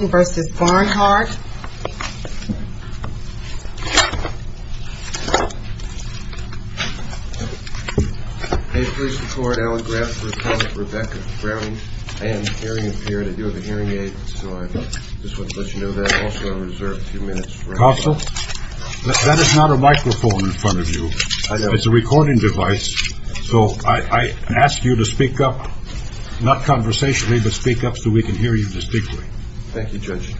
I am hearing impaired. I do have a hearing aid, so I just want to let you know that. Also, I reserve a few minutes for questions. Counsel, that is not a microphone in front of you. It's a recording device, so I ask you to speak up, not conversationally, but speak up so we can hear you distinctly. Thank you, Judge.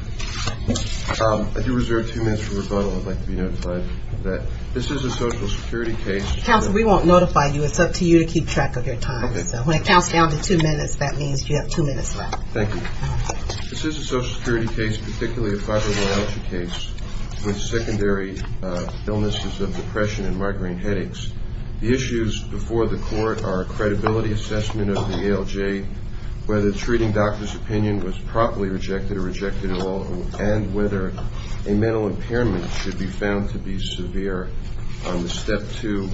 I do reserve two minutes for rebuttal. I'd like to be notified of that. This is a Social Security case. Counsel, we won't notify you. It's up to you to keep track of your time. Okay. So when it counts down to two minutes, that means you have two minutes left. Thank you. All right. This is a Social Security case, particularly a fibromyalgia case with secondary illnesses of depression and migraine headaches. The issues before the court are a credibility assessment of the ALJ, whether the treating doctor's opinion was properly rejected or rejected at all, and whether a mental impairment should be found to be severe on the step two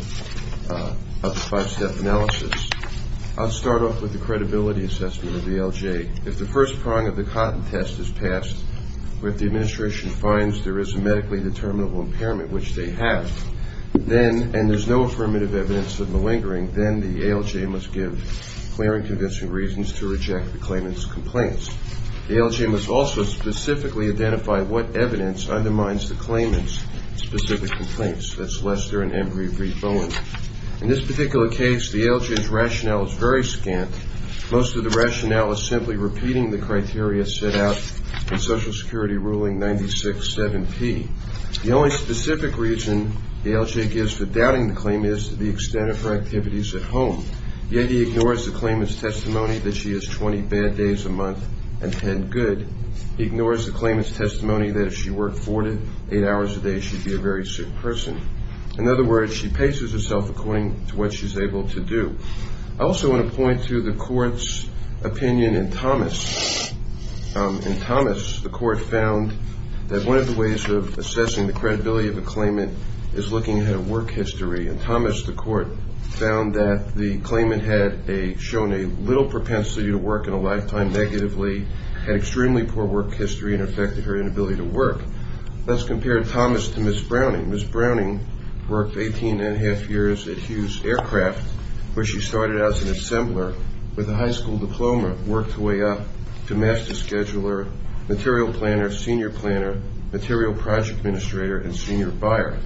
of the five-step analysis. I'll start off with the credibility assessment of the ALJ. If the first prong of the cotton test is passed, or if the administration finds there is a medically determinable impairment, which they have, and there's no affirmative evidence of malingering, then the ALJ must give clear and convincing reasons to reject the claimant's complaints. The ALJ must also specifically identify what evidence undermines the claimant's specific complaints. That's Lester and Embree v. Bowen. In this particular case, the ALJ's rationale is very scant. Most of the rationale is simply repeating the criteria set out in Social Security Ruling 96-7P. The only specific reason the ALJ gives for doubting the claimant is to the extent of her activities at home. Yet he ignores the claimant's testimony that she has 20 bad days a month and 10 good. He ignores the claimant's testimony that if she worked four to eight hours a day, she'd be a very sick person. In other words, she paces herself according to what she's able to do. I also want to point to the court's opinion in Thomas. In Thomas, the court found that one of the ways of assessing the credibility of a claimant is looking at her work history. In Thomas, the court found that the claimant had shown a little propensity to work in a lifetime negatively, had extremely poor work history, and affected her inability to work. Let's compare Thomas to Ms. Browning. Ms. Browning worked 18 and a half years at Hughes Aircraft, where she started out as an assembler with a high school diploma, worked her way up to master scheduler, material planner, senior planner, material project administrator, and senior buyer.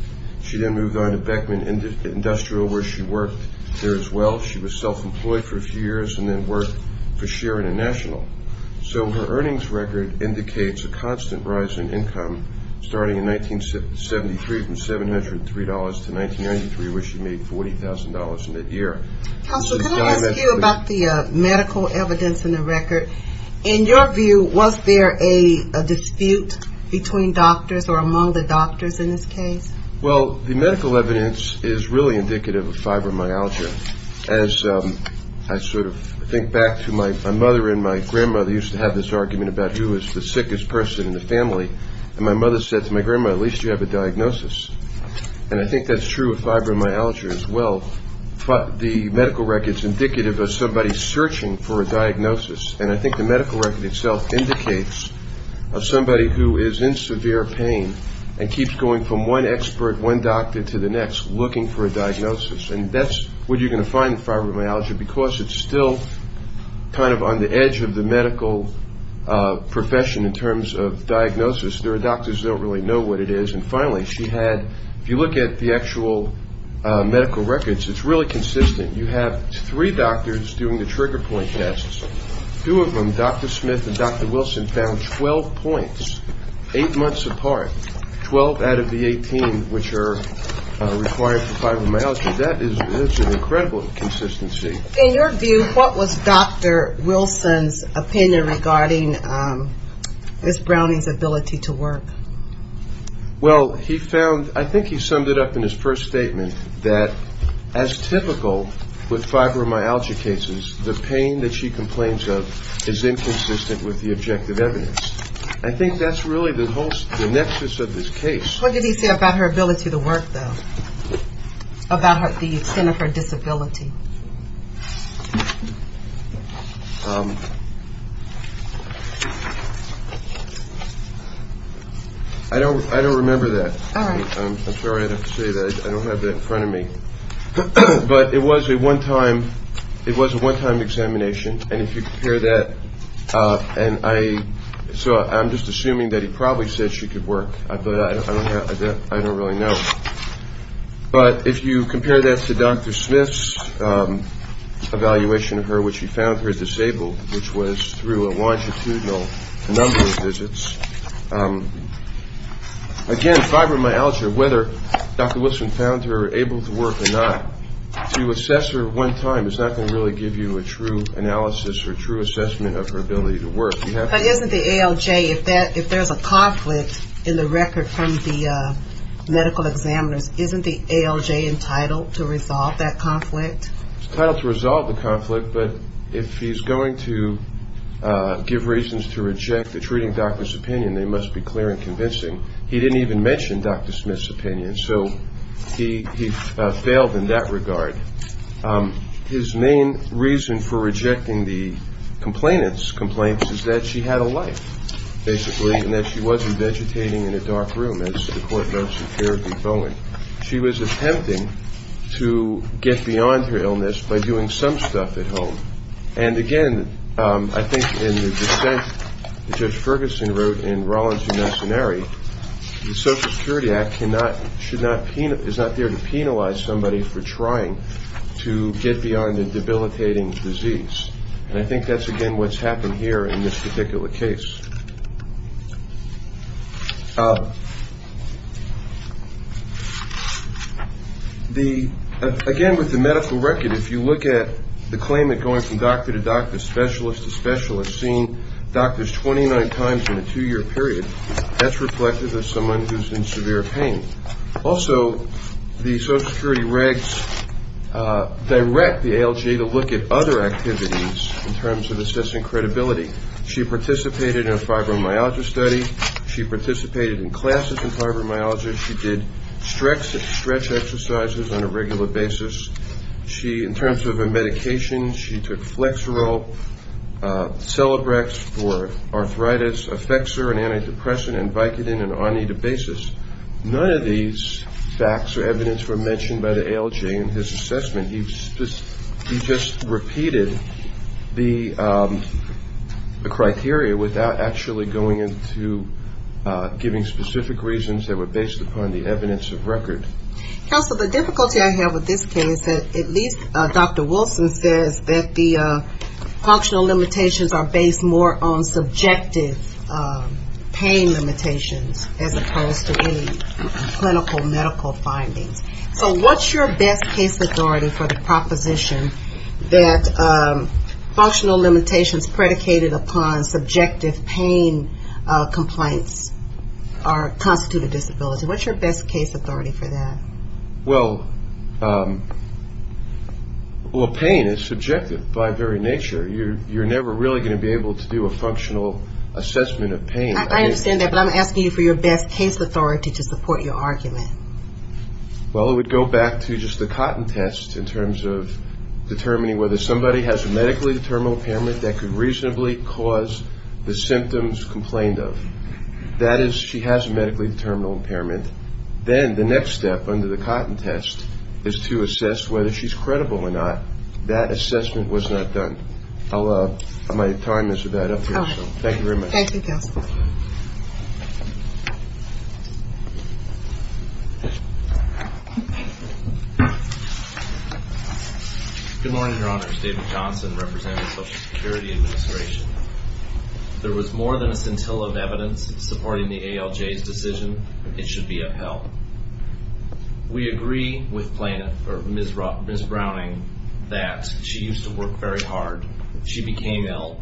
She then moved on to Beckman Industrial, where she worked there as well. She was self-employed for a few years and then worked for Shearer International. So her earnings record indicates a constant rise in income starting in 1973 from $703 to 1993, where she made $40,000 in that year. Counselor, can I ask you about the medical evidence in the record? In your view, was there a dispute between doctors or among the doctors in this case? Well, the medical evidence is really indicative of fibromyalgia. As I sort of think back to my mother and my grandmother used to have this argument about who was the sickest person in the family, and my mother said to my grandma, at least you have a diagnosis. And I think that's true of fibromyalgia as well. The medical record is indicative of somebody searching for a diagnosis, and I think the medical record itself indicates of somebody who is in severe pain and keeps going from one expert, one doctor, to the next looking for a diagnosis. And that's where you're going to find fibromyalgia, because it's still kind of on the edge of the medical profession in terms of diagnosis. There are doctors who don't really know what it is. And finally, if you look at the actual medical records, it's really consistent. You have three doctors doing the trigger point tests. Two of them, Dr. Smith and Dr. Wilson, found 12 points eight months apart, 12 out of the 18 which are required for fibromyalgia. That is an incredible consistency. In your view, what was Dr. Wilson's opinion regarding Ms. Browning's ability to work? Well, he found, I think he summed it up in his first statement, that as typical with fibromyalgia cases, the pain that she complains of is inconsistent with the objective evidence. I think that's really the whole nexus of this case. What did he say about her ability to work, though, about the extent of her disability? I don't remember that. I'm sorry I have to say that. I don't have that in front of me. But it was a one-time examination. And if you compare that, and I'm just assuming that he probably said she could work, but I don't really know. But if you compare that to Dr. Smith's evaluation of her, which he found her disabled, which was through a longitudinal number of visits, again, fibromyalgia, whether Dr. Wilson found her able to work or not, to assess her one time is not going to really give you a true analysis or true assessment of her ability to work. But isn't the ALJ, if there's a conflict in the record from the medical examiners, isn't the ALJ entitled to resolve that conflict? It's entitled to resolve the conflict, but if he's going to give reasons to reject the treating doctor's opinion, they must be clear and convincing. He didn't even mention Dr. Smith's opinion. So he failed in that regard. His main reason for rejecting the complainant's complaints is that she had a life, basically, and that she wasn't vegetating in a dark room, as the court notes in Fairview Bowen. She was attempting to get beyond her illness by doing some stuff at home. And, again, I think in the dissent that Judge Ferguson wrote in Rollins v. Masonary, the Social Security Act is not there to penalize somebody for trying to get beyond a debilitating disease. And I think that's, again, what's happened here in this particular case. Again, with the medical record, if you look at the claimant going from doctor to doctor, specialist to specialist, seeing doctors 29 times in a two-year period, that's reflective of someone who's in severe pain. Also, the Social Security regs direct the ALJ to look at other activities in terms of assessing credibility. She participated in a fibromyalgia study. She participated in classes in fibromyalgia. She did stretch exercises on a regular basis. In terms of her medication, she took Flexeril, Celebrex for arthritis, Effexor and antidepressant, and Vicodin and Onetabasis. None of these facts or evidence were mentioned by the ALJ in his assessment. He just repeated the criteria without actually going into giving specific reasons that were based upon the evidence of record. Counsel, the difficulty I have with this case, at least Dr. Wilson says, that the functional limitations are based more on subjective pain limitations, as opposed to any clinical medical findings. So what's your best case authority for the proposition that functional limitations predicated upon subjective pain complaints constitute a disability? What's your best case authority for that? Well, pain is subjective by very nature. You're never really going to be able to do a functional assessment of pain. I understand that, but I'm asking you for your best case authority to support your argument. Well, it would go back to just the cotton test in terms of determining whether somebody has a medically determinable impairment that could reasonably cause the symptoms complained of. That is, she has a medically determinable impairment. Then the next step under the cotton test is to assess whether she's credible or not. That assessment was not done. My time is about up here, so thank you very much. Thank you, Counsel. Good morning, Your Honors. David Johnson, representing the Social Security Administration. There was more than a scintilla of evidence supporting the ALJ's decision it should be upheld. We agree with Ms. Browning that she used to work very hard. She became ill,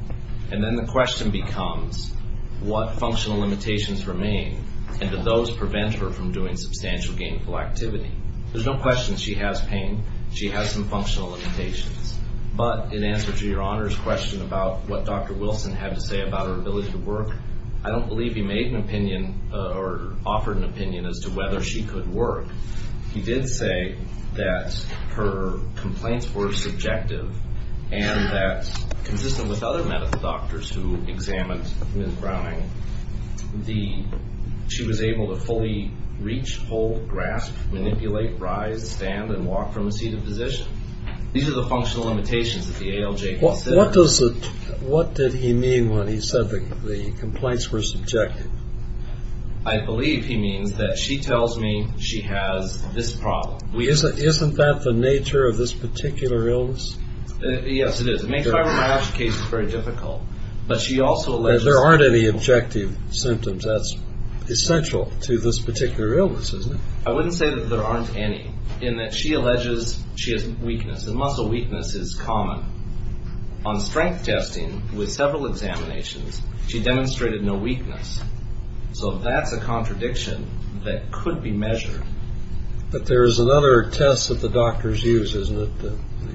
and then the question becomes what functional limitations remain, and do those prevent her from doing substantial gainful activity? There's no question she has pain. She has some functional limitations. But in answer to Your Honor's question about what Dr. Wilson had to say about her ability to work, I don't believe he made an opinion or offered an opinion as to whether she could work. He did say that her complaints were subjective, and that consistent with other medical doctors who examined Ms. Browning, she was able to fully reach, hold, grasp, manipulate, rise, stand, and walk from a seated position. These are the functional limitations that the ALJ considers. What did he mean when he said the complaints were subjective? I believe he means that she tells me she has this problem. Isn't that the nature of this particular illness? Yes, it is. It makes fibromyalgia cases very difficult. There aren't any objective symptoms. That's essential to this particular illness, isn't it? I wouldn't say that there aren't any, in that she alleges she has weakness. Muscle weakness is common. On strength testing, with several examinations, she demonstrated no weakness. So that's a contradiction that could be measured. But there is another test that the doctors use, isn't it,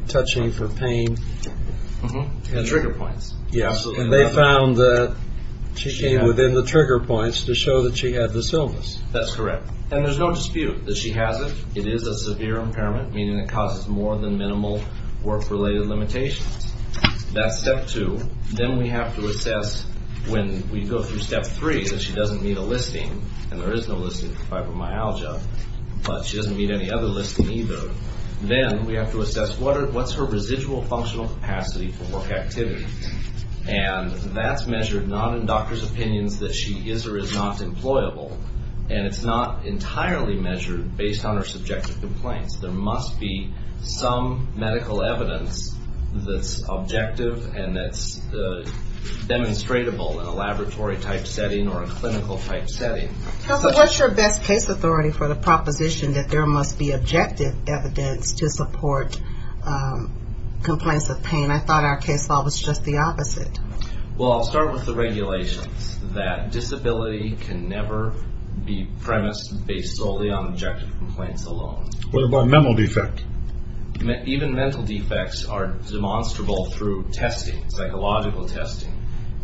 touching for pain? Trigger points. They found that she was in the trigger points to show that she had this illness. That's correct. And there's no dispute that she has it. It is a severe impairment, meaning it causes more than minimal work-related limitations. That's step two. Then we have to assess, when we go through step three, that she doesn't meet a listing, and there is no listing for fibromyalgia, but she doesn't meet any other listing either. Then we have to assess, what's her residual functional capacity for work activity? And that's measured not in doctors' opinions that she is or is not employable, and it's not entirely measured based on her subjective complaints. There must be some medical evidence that's objective and that's demonstratable in a laboratory-type setting or a clinical-type setting. What's your best case authority for the proposition that there must be objective evidence to support complaints of pain? I thought our case law was just the opposite. Well, I'll start with the regulations, that disability can never be premised based solely on objective complaints alone. What about mental defect? Even mental defects are demonstrable through testing, psychological testing.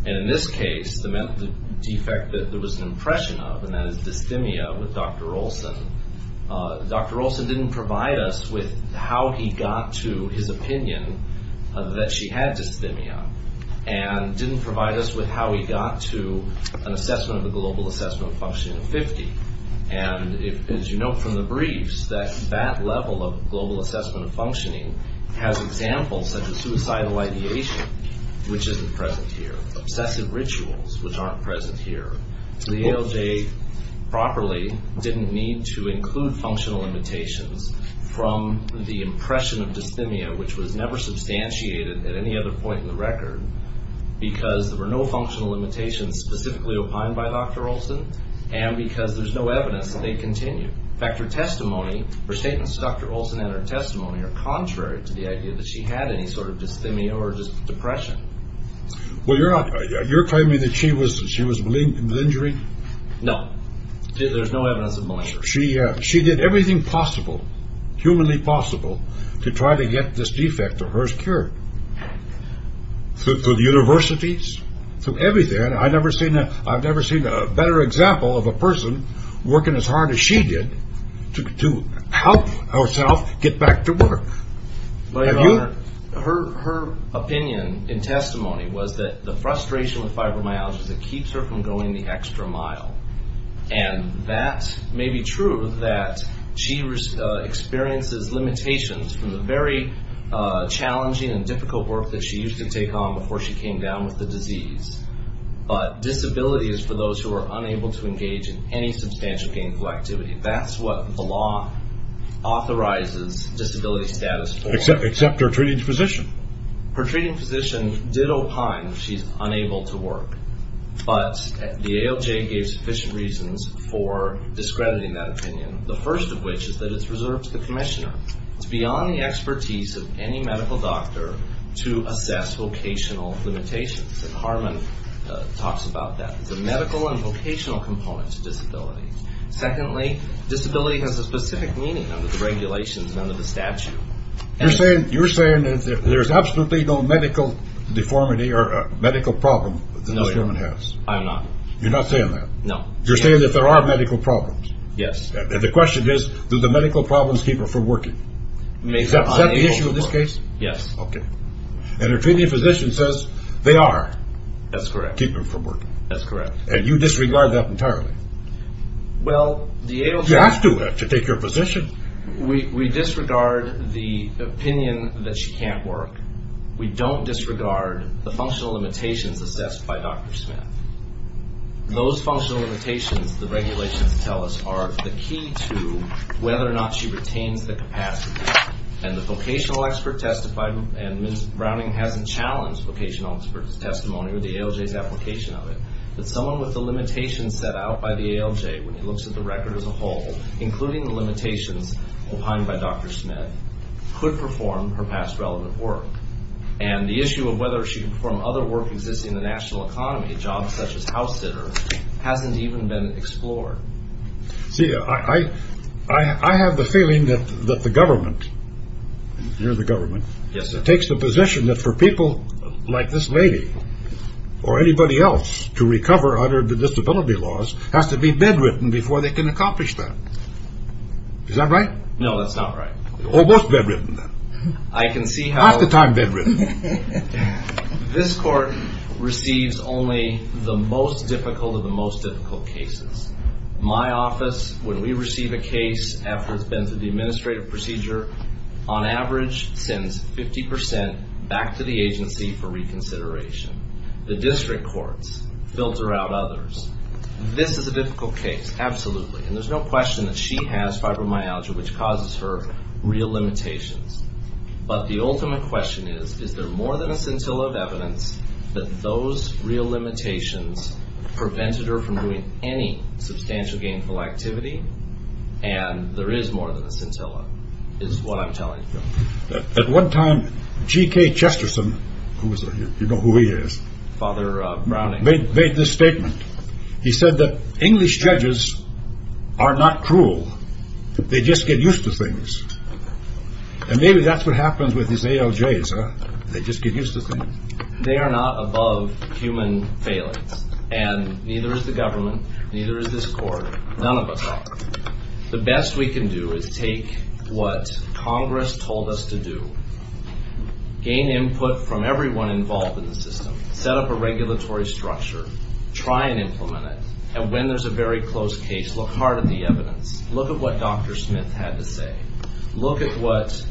In this case, the mental defect that there was an impression of, and that is dysthymia with Dr. Olson, Dr. Olson didn't provide us with how he got to his opinion that she had dysthymia and didn't provide us with how he got to an assessment of the global assessment of functioning of 50. As you note from the briefs, that level of global assessment of functioning has examples such as suicidal ideation, which isn't present here, obsessive rituals, which aren't present here. The ALJ properly didn't need to include functional limitations from the impression of dysthymia, which was never substantiated at any other point in the record, because there were no functional limitations specifically opined by Dr. Olson and because there's no evidence that they continue. In fact, her testimony, her statements to Dr. Olson and her testimony are contrary to the idea that she had any sort of dysthymia or just depression. Well, you're claiming that she was malignant with injury? No. There's no evidence of malignancy. She did everything possible, humanly possible, to try to get this defect of hers cured. Through the universities, through everything. I've never seen a better example of a person working as hard as she did to help herself get back to work. Her opinion in testimony was that the frustration with fibromyalgia is that it keeps her from going the extra mile. And that may be true that she experiences limitations from the very challenging and difficult work that she used to take on before she came down with the disease. But disability is for those who are unable to engage in any substantial gainful activity. That's what the law authorizes disability status for. Except her treating physician. Her treating physician did opine that she's unable to work. But the ALJ gave sufficient reasons for discrediting that opinion, the first of which is that it's reserved to the commissioner. It's beyond the expertise of any medical doctor to assess vocational limitations. Harman talks about that. It's a medical and vocational component to disability. Secondly, disability has a specific meaning under the regulations and under the statute. You're saying that there's absolutely no medical deformity or medical problem that this woman has? No, I am not. You're not saying that? No. You're saying that there are medical problems? Yes. And the question is, do the medical problems keep her from working? Is that the issue in this case? Yes. Okay. And her treating physician says they are. That's correct. Keep her from working. That's correct. And you disregard that entirely? Well, the ALJ You have to have to take your position. We disregard the opinion that she can't work. We don't disregard the functional limitations assessed by Dr. Smith. Those functional limitations, the regulations tell us, are the key to whether or not she retains the capacity. And the vocational expert testified, and Ms. Browning hasn't challenged vocational expert's testimony or the ALJ's application of it, that someone with the limitations set out by the ALJ, when he looks at the record as a whole, including the limitations opined by Dr. Smith, could perform her past relevant work. And the issue of whether she could perform other work existing in the national economy, jobs such as house sitter, hasn't even been explored. See, I have the feeling that the government, you're the government, takes the position that for people like this lady or anybody else to recover under the disability laws has to be bedridden before they can accomplish that. Is that right? No, that's not right. Almost bedridden. I can see how Most of the time bedridden. This court receives only the most difficult of the most difficult cases. My office, when we receive a case after it's been through the administrative procedure, on average sends 50% back to the agency for reconsideration. The district courts filter out others. This is a difficult case, absolutely. And there's no question that she has fibromyalgia, which causes her real limitations. But the ultimate question is, is there more than a scintilla of evidence that those real limitations prevented her from doing any substantial gainful activity? And there is more than a scintilla, is what I'm telling you. At one time, G.K. Chesterton, who is a, you know who he is, Father Browning made this statement. He said that English judges are not cruel. They just get used to things. And maybe that's what happens with these ALJs, huh? They just get used to things. They are not above human failings. And neither is the government, neither is this court. None of us are. The best we can do is take what Congress told us to do. Gain input from everyone involved in the system. Set up a regulatory structure. Try and implement it. And when there's a very close case, look hard at the evidence. Look at what Dr. Smith had to say. Look at what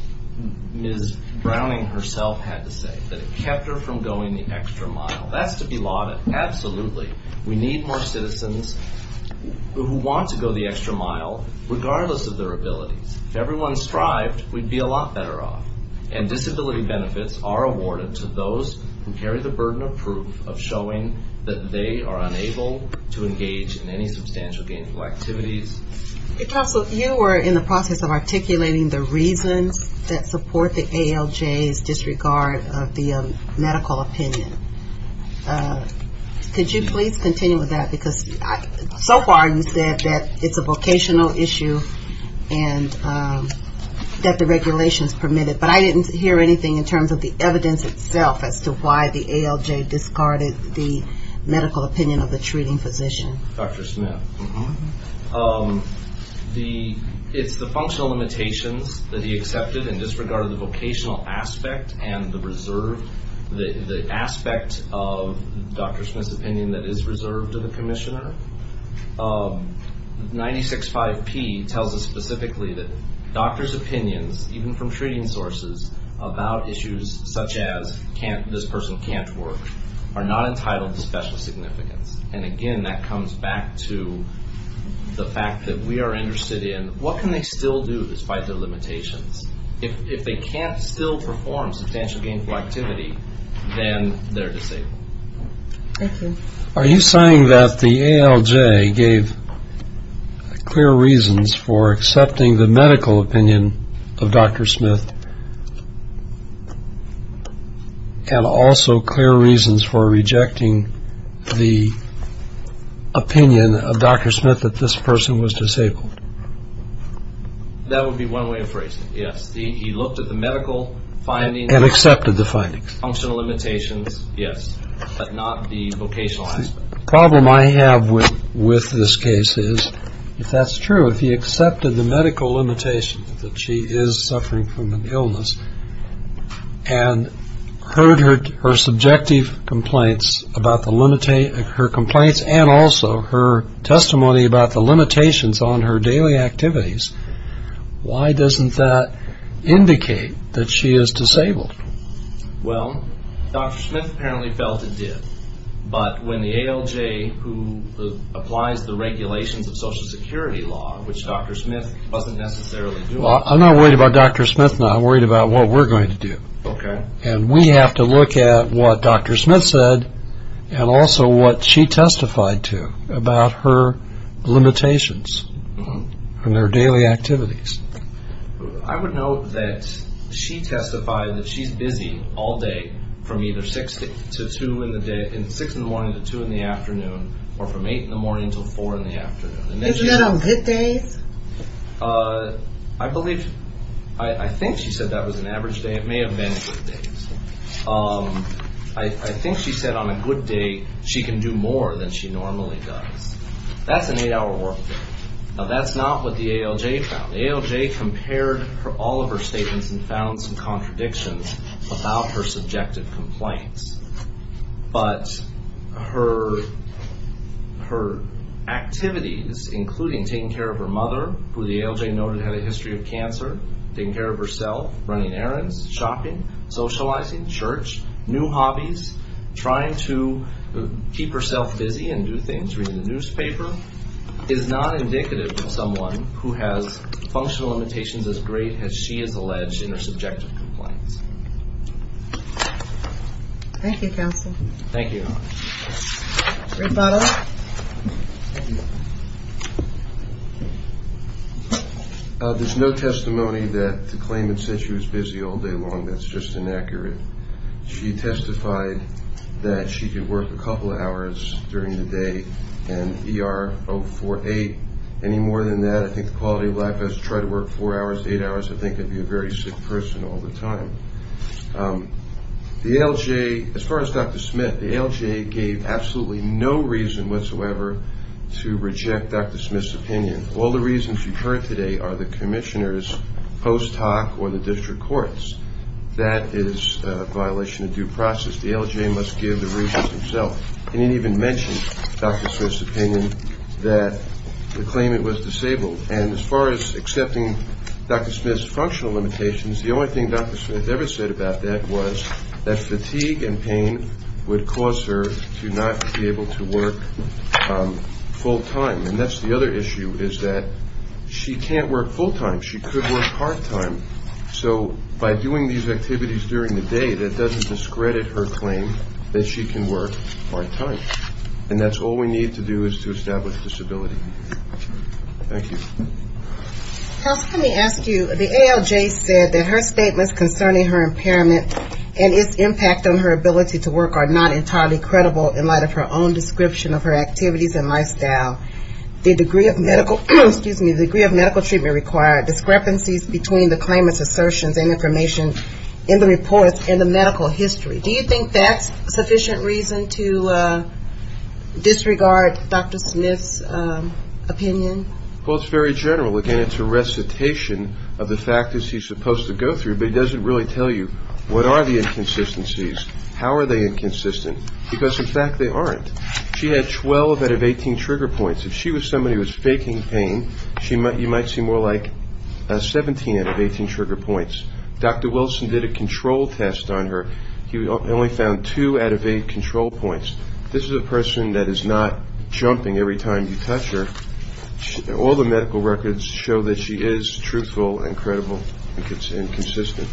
Ms. Browning herself had to say, that it kept her from going the extra mile. That's to be lauded, absolutely. We need more citizens who want to go the extra mile, regardless of their abilities. If everyone strived, we'd be a lot better off. And disability benefits are awarded to those who carry the burden of proof, of showing that they are unable to engage in any substantial gainful activities. Counsel, you were in the process of articulating the reasons that support the ALJ's disregard of the medical opinion. Could you please continue with that? Because so far you said that it's a vocational issue and that the regulations permit it. But I didn't hear anything in terms of the evidence itself as to why the ALJ discarded the medical opinion of the treating physician. Dr. Smith, it's the functional limitations that he accepted and disregarded the vocational aspect and the reserve, the aspect of Dr. Smith's opinion that is reserved to the commissioner. 96-5-P tells us specifically that doctors' opinions, even from treating sources, about issues such as this person can't work, are not entitled to special significance. And again, that comes back to the fact that we are interested in what can they still do despite their limitations. If they can't still perform substantial gainful activity, then they're disabled. Thank you. Are you saying that the ALJ gave clear reasons for accepting the medical opinion of Dr. Smith and also clear reasons for rejecting the opinion of Dr. Smith that this person was disabled? That would be one way of phrasing it, yes. He looked at the medical findings. And accepted the findings. Functional limitations, yes, but not the vocational aspect. The problem I have with this case is, if that's true, if he accepted the medical limitation that she is suffering from an illness and heard her subjective complaints about her complaints and also her testimony about the limitations on her daily activities, why doesn't that indicate that she is disabled? Well, Dr. Smith apparently felt it did. But when the ALJ, who applies the regulations of Social Security law, which Dr. Smith wasn't necessarily doing. I'm not worried about Dr. Smith. I'm worried about what we're going to do. Okay. And we have to look at what Dr. Smith said and also what she testified to about her limitations on her daily activities. I would note that she testified that she's busy all day from either 6 in the morning to 2 in the afternoon or from 8 in the morning to 4 in the afternoon. Isn't that on good days? I believe, I think she said that was an average day. It may have been good days. I think she said on a good day she can do more than she normally does. That's an 8-hour workday. Now, that's not what the ALJ found. The ALJ compared all of her statements and found some contradictions about her subjective complaints. But her activities, including taking care of her mother, who the ALJ noted had a history of cancer, taking care of herself, running errands, shopping, socializing, church, new hobbies, trying to keep herself busy and do things, reading the newspaper, is not indicative of someone who has functional limitations as great as she has alleged in her subjective complaints. Thank you, counsel. Thank you. Rebuttal. There's no testimony that the claimant said she was busy all day long. That's just inaccurate. She testified that she could work a couple of hours during the day and ER 048. Any more than that, I think the quality of life has to try to work four hours, eight hours. I think I'd be a very sick person all the time. The ALJ, as far as Dr. Smith, the ALJ gave absolutely no reason whatsoever to reject Dr. Smith's opinion. All the reasons you've heard today are the commissioner's post hoc or the district court's. That is a violation of due process. The ALJ must give the reasons itself. It didn't even mention Dr. Smith's opinion that the claimant was disabled. And as far as accepting Dr. Smith's functional limitations, the only thing Dr. Smith ever said about that was that fatigue and pain would cause her to not be able to work full time. And that's the other issue, is that she can't work full time. She could work part time. So by doing these activities during the day, that doesn't discredit her claim that she can work part time. And that's all we need to do is to establish disability. Thank you. House, let me ask you, the ALJ said that her statements concerning her impairment and its impact on her ability to work are not entirely credible in light of her own description of her activities and lifestyle. The degree of medical treatment required discrepancies between the claimant's assertions and information in the report and the medical history. Do you think that's sufficient reason to disregard Dr. Smith's opinion? Well, it's very general. Again, it's a recitation of the fact that she's supposed to go through, but it doesn't really tell you what are the inconsistencies, how are they inconsistent. Because, in fact, they aren't. She had 12 out of 18 trigger points. If she was somebody who was faking pain, you might see more like 17 out of 18 trigger points. Dr. Wilson did a control test on her. He only found two out of eight control points. This is a person that is not jumping every time you touch her. All the medical records show that she is truthful and credible and consistent.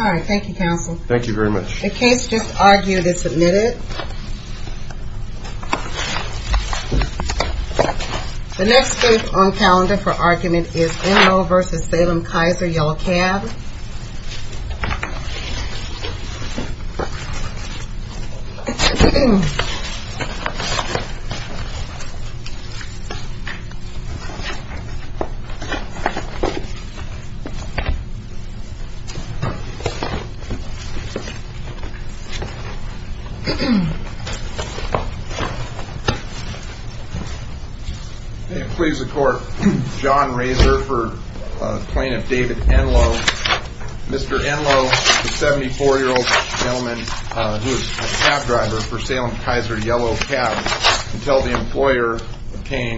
All right. Thank you, counsel. Thank you very much. The case just argued is submitted. The next case on calendar for argument is Enno v. Salem-Kaiser-Yellow Cab. May it please the court. John Razor for Plaintiff David Enno. Mr. Enno, a 74-year-old gentleman who is a cab driver for Salem-Kaiser-Yellow Cab, can tell the employer of Kane,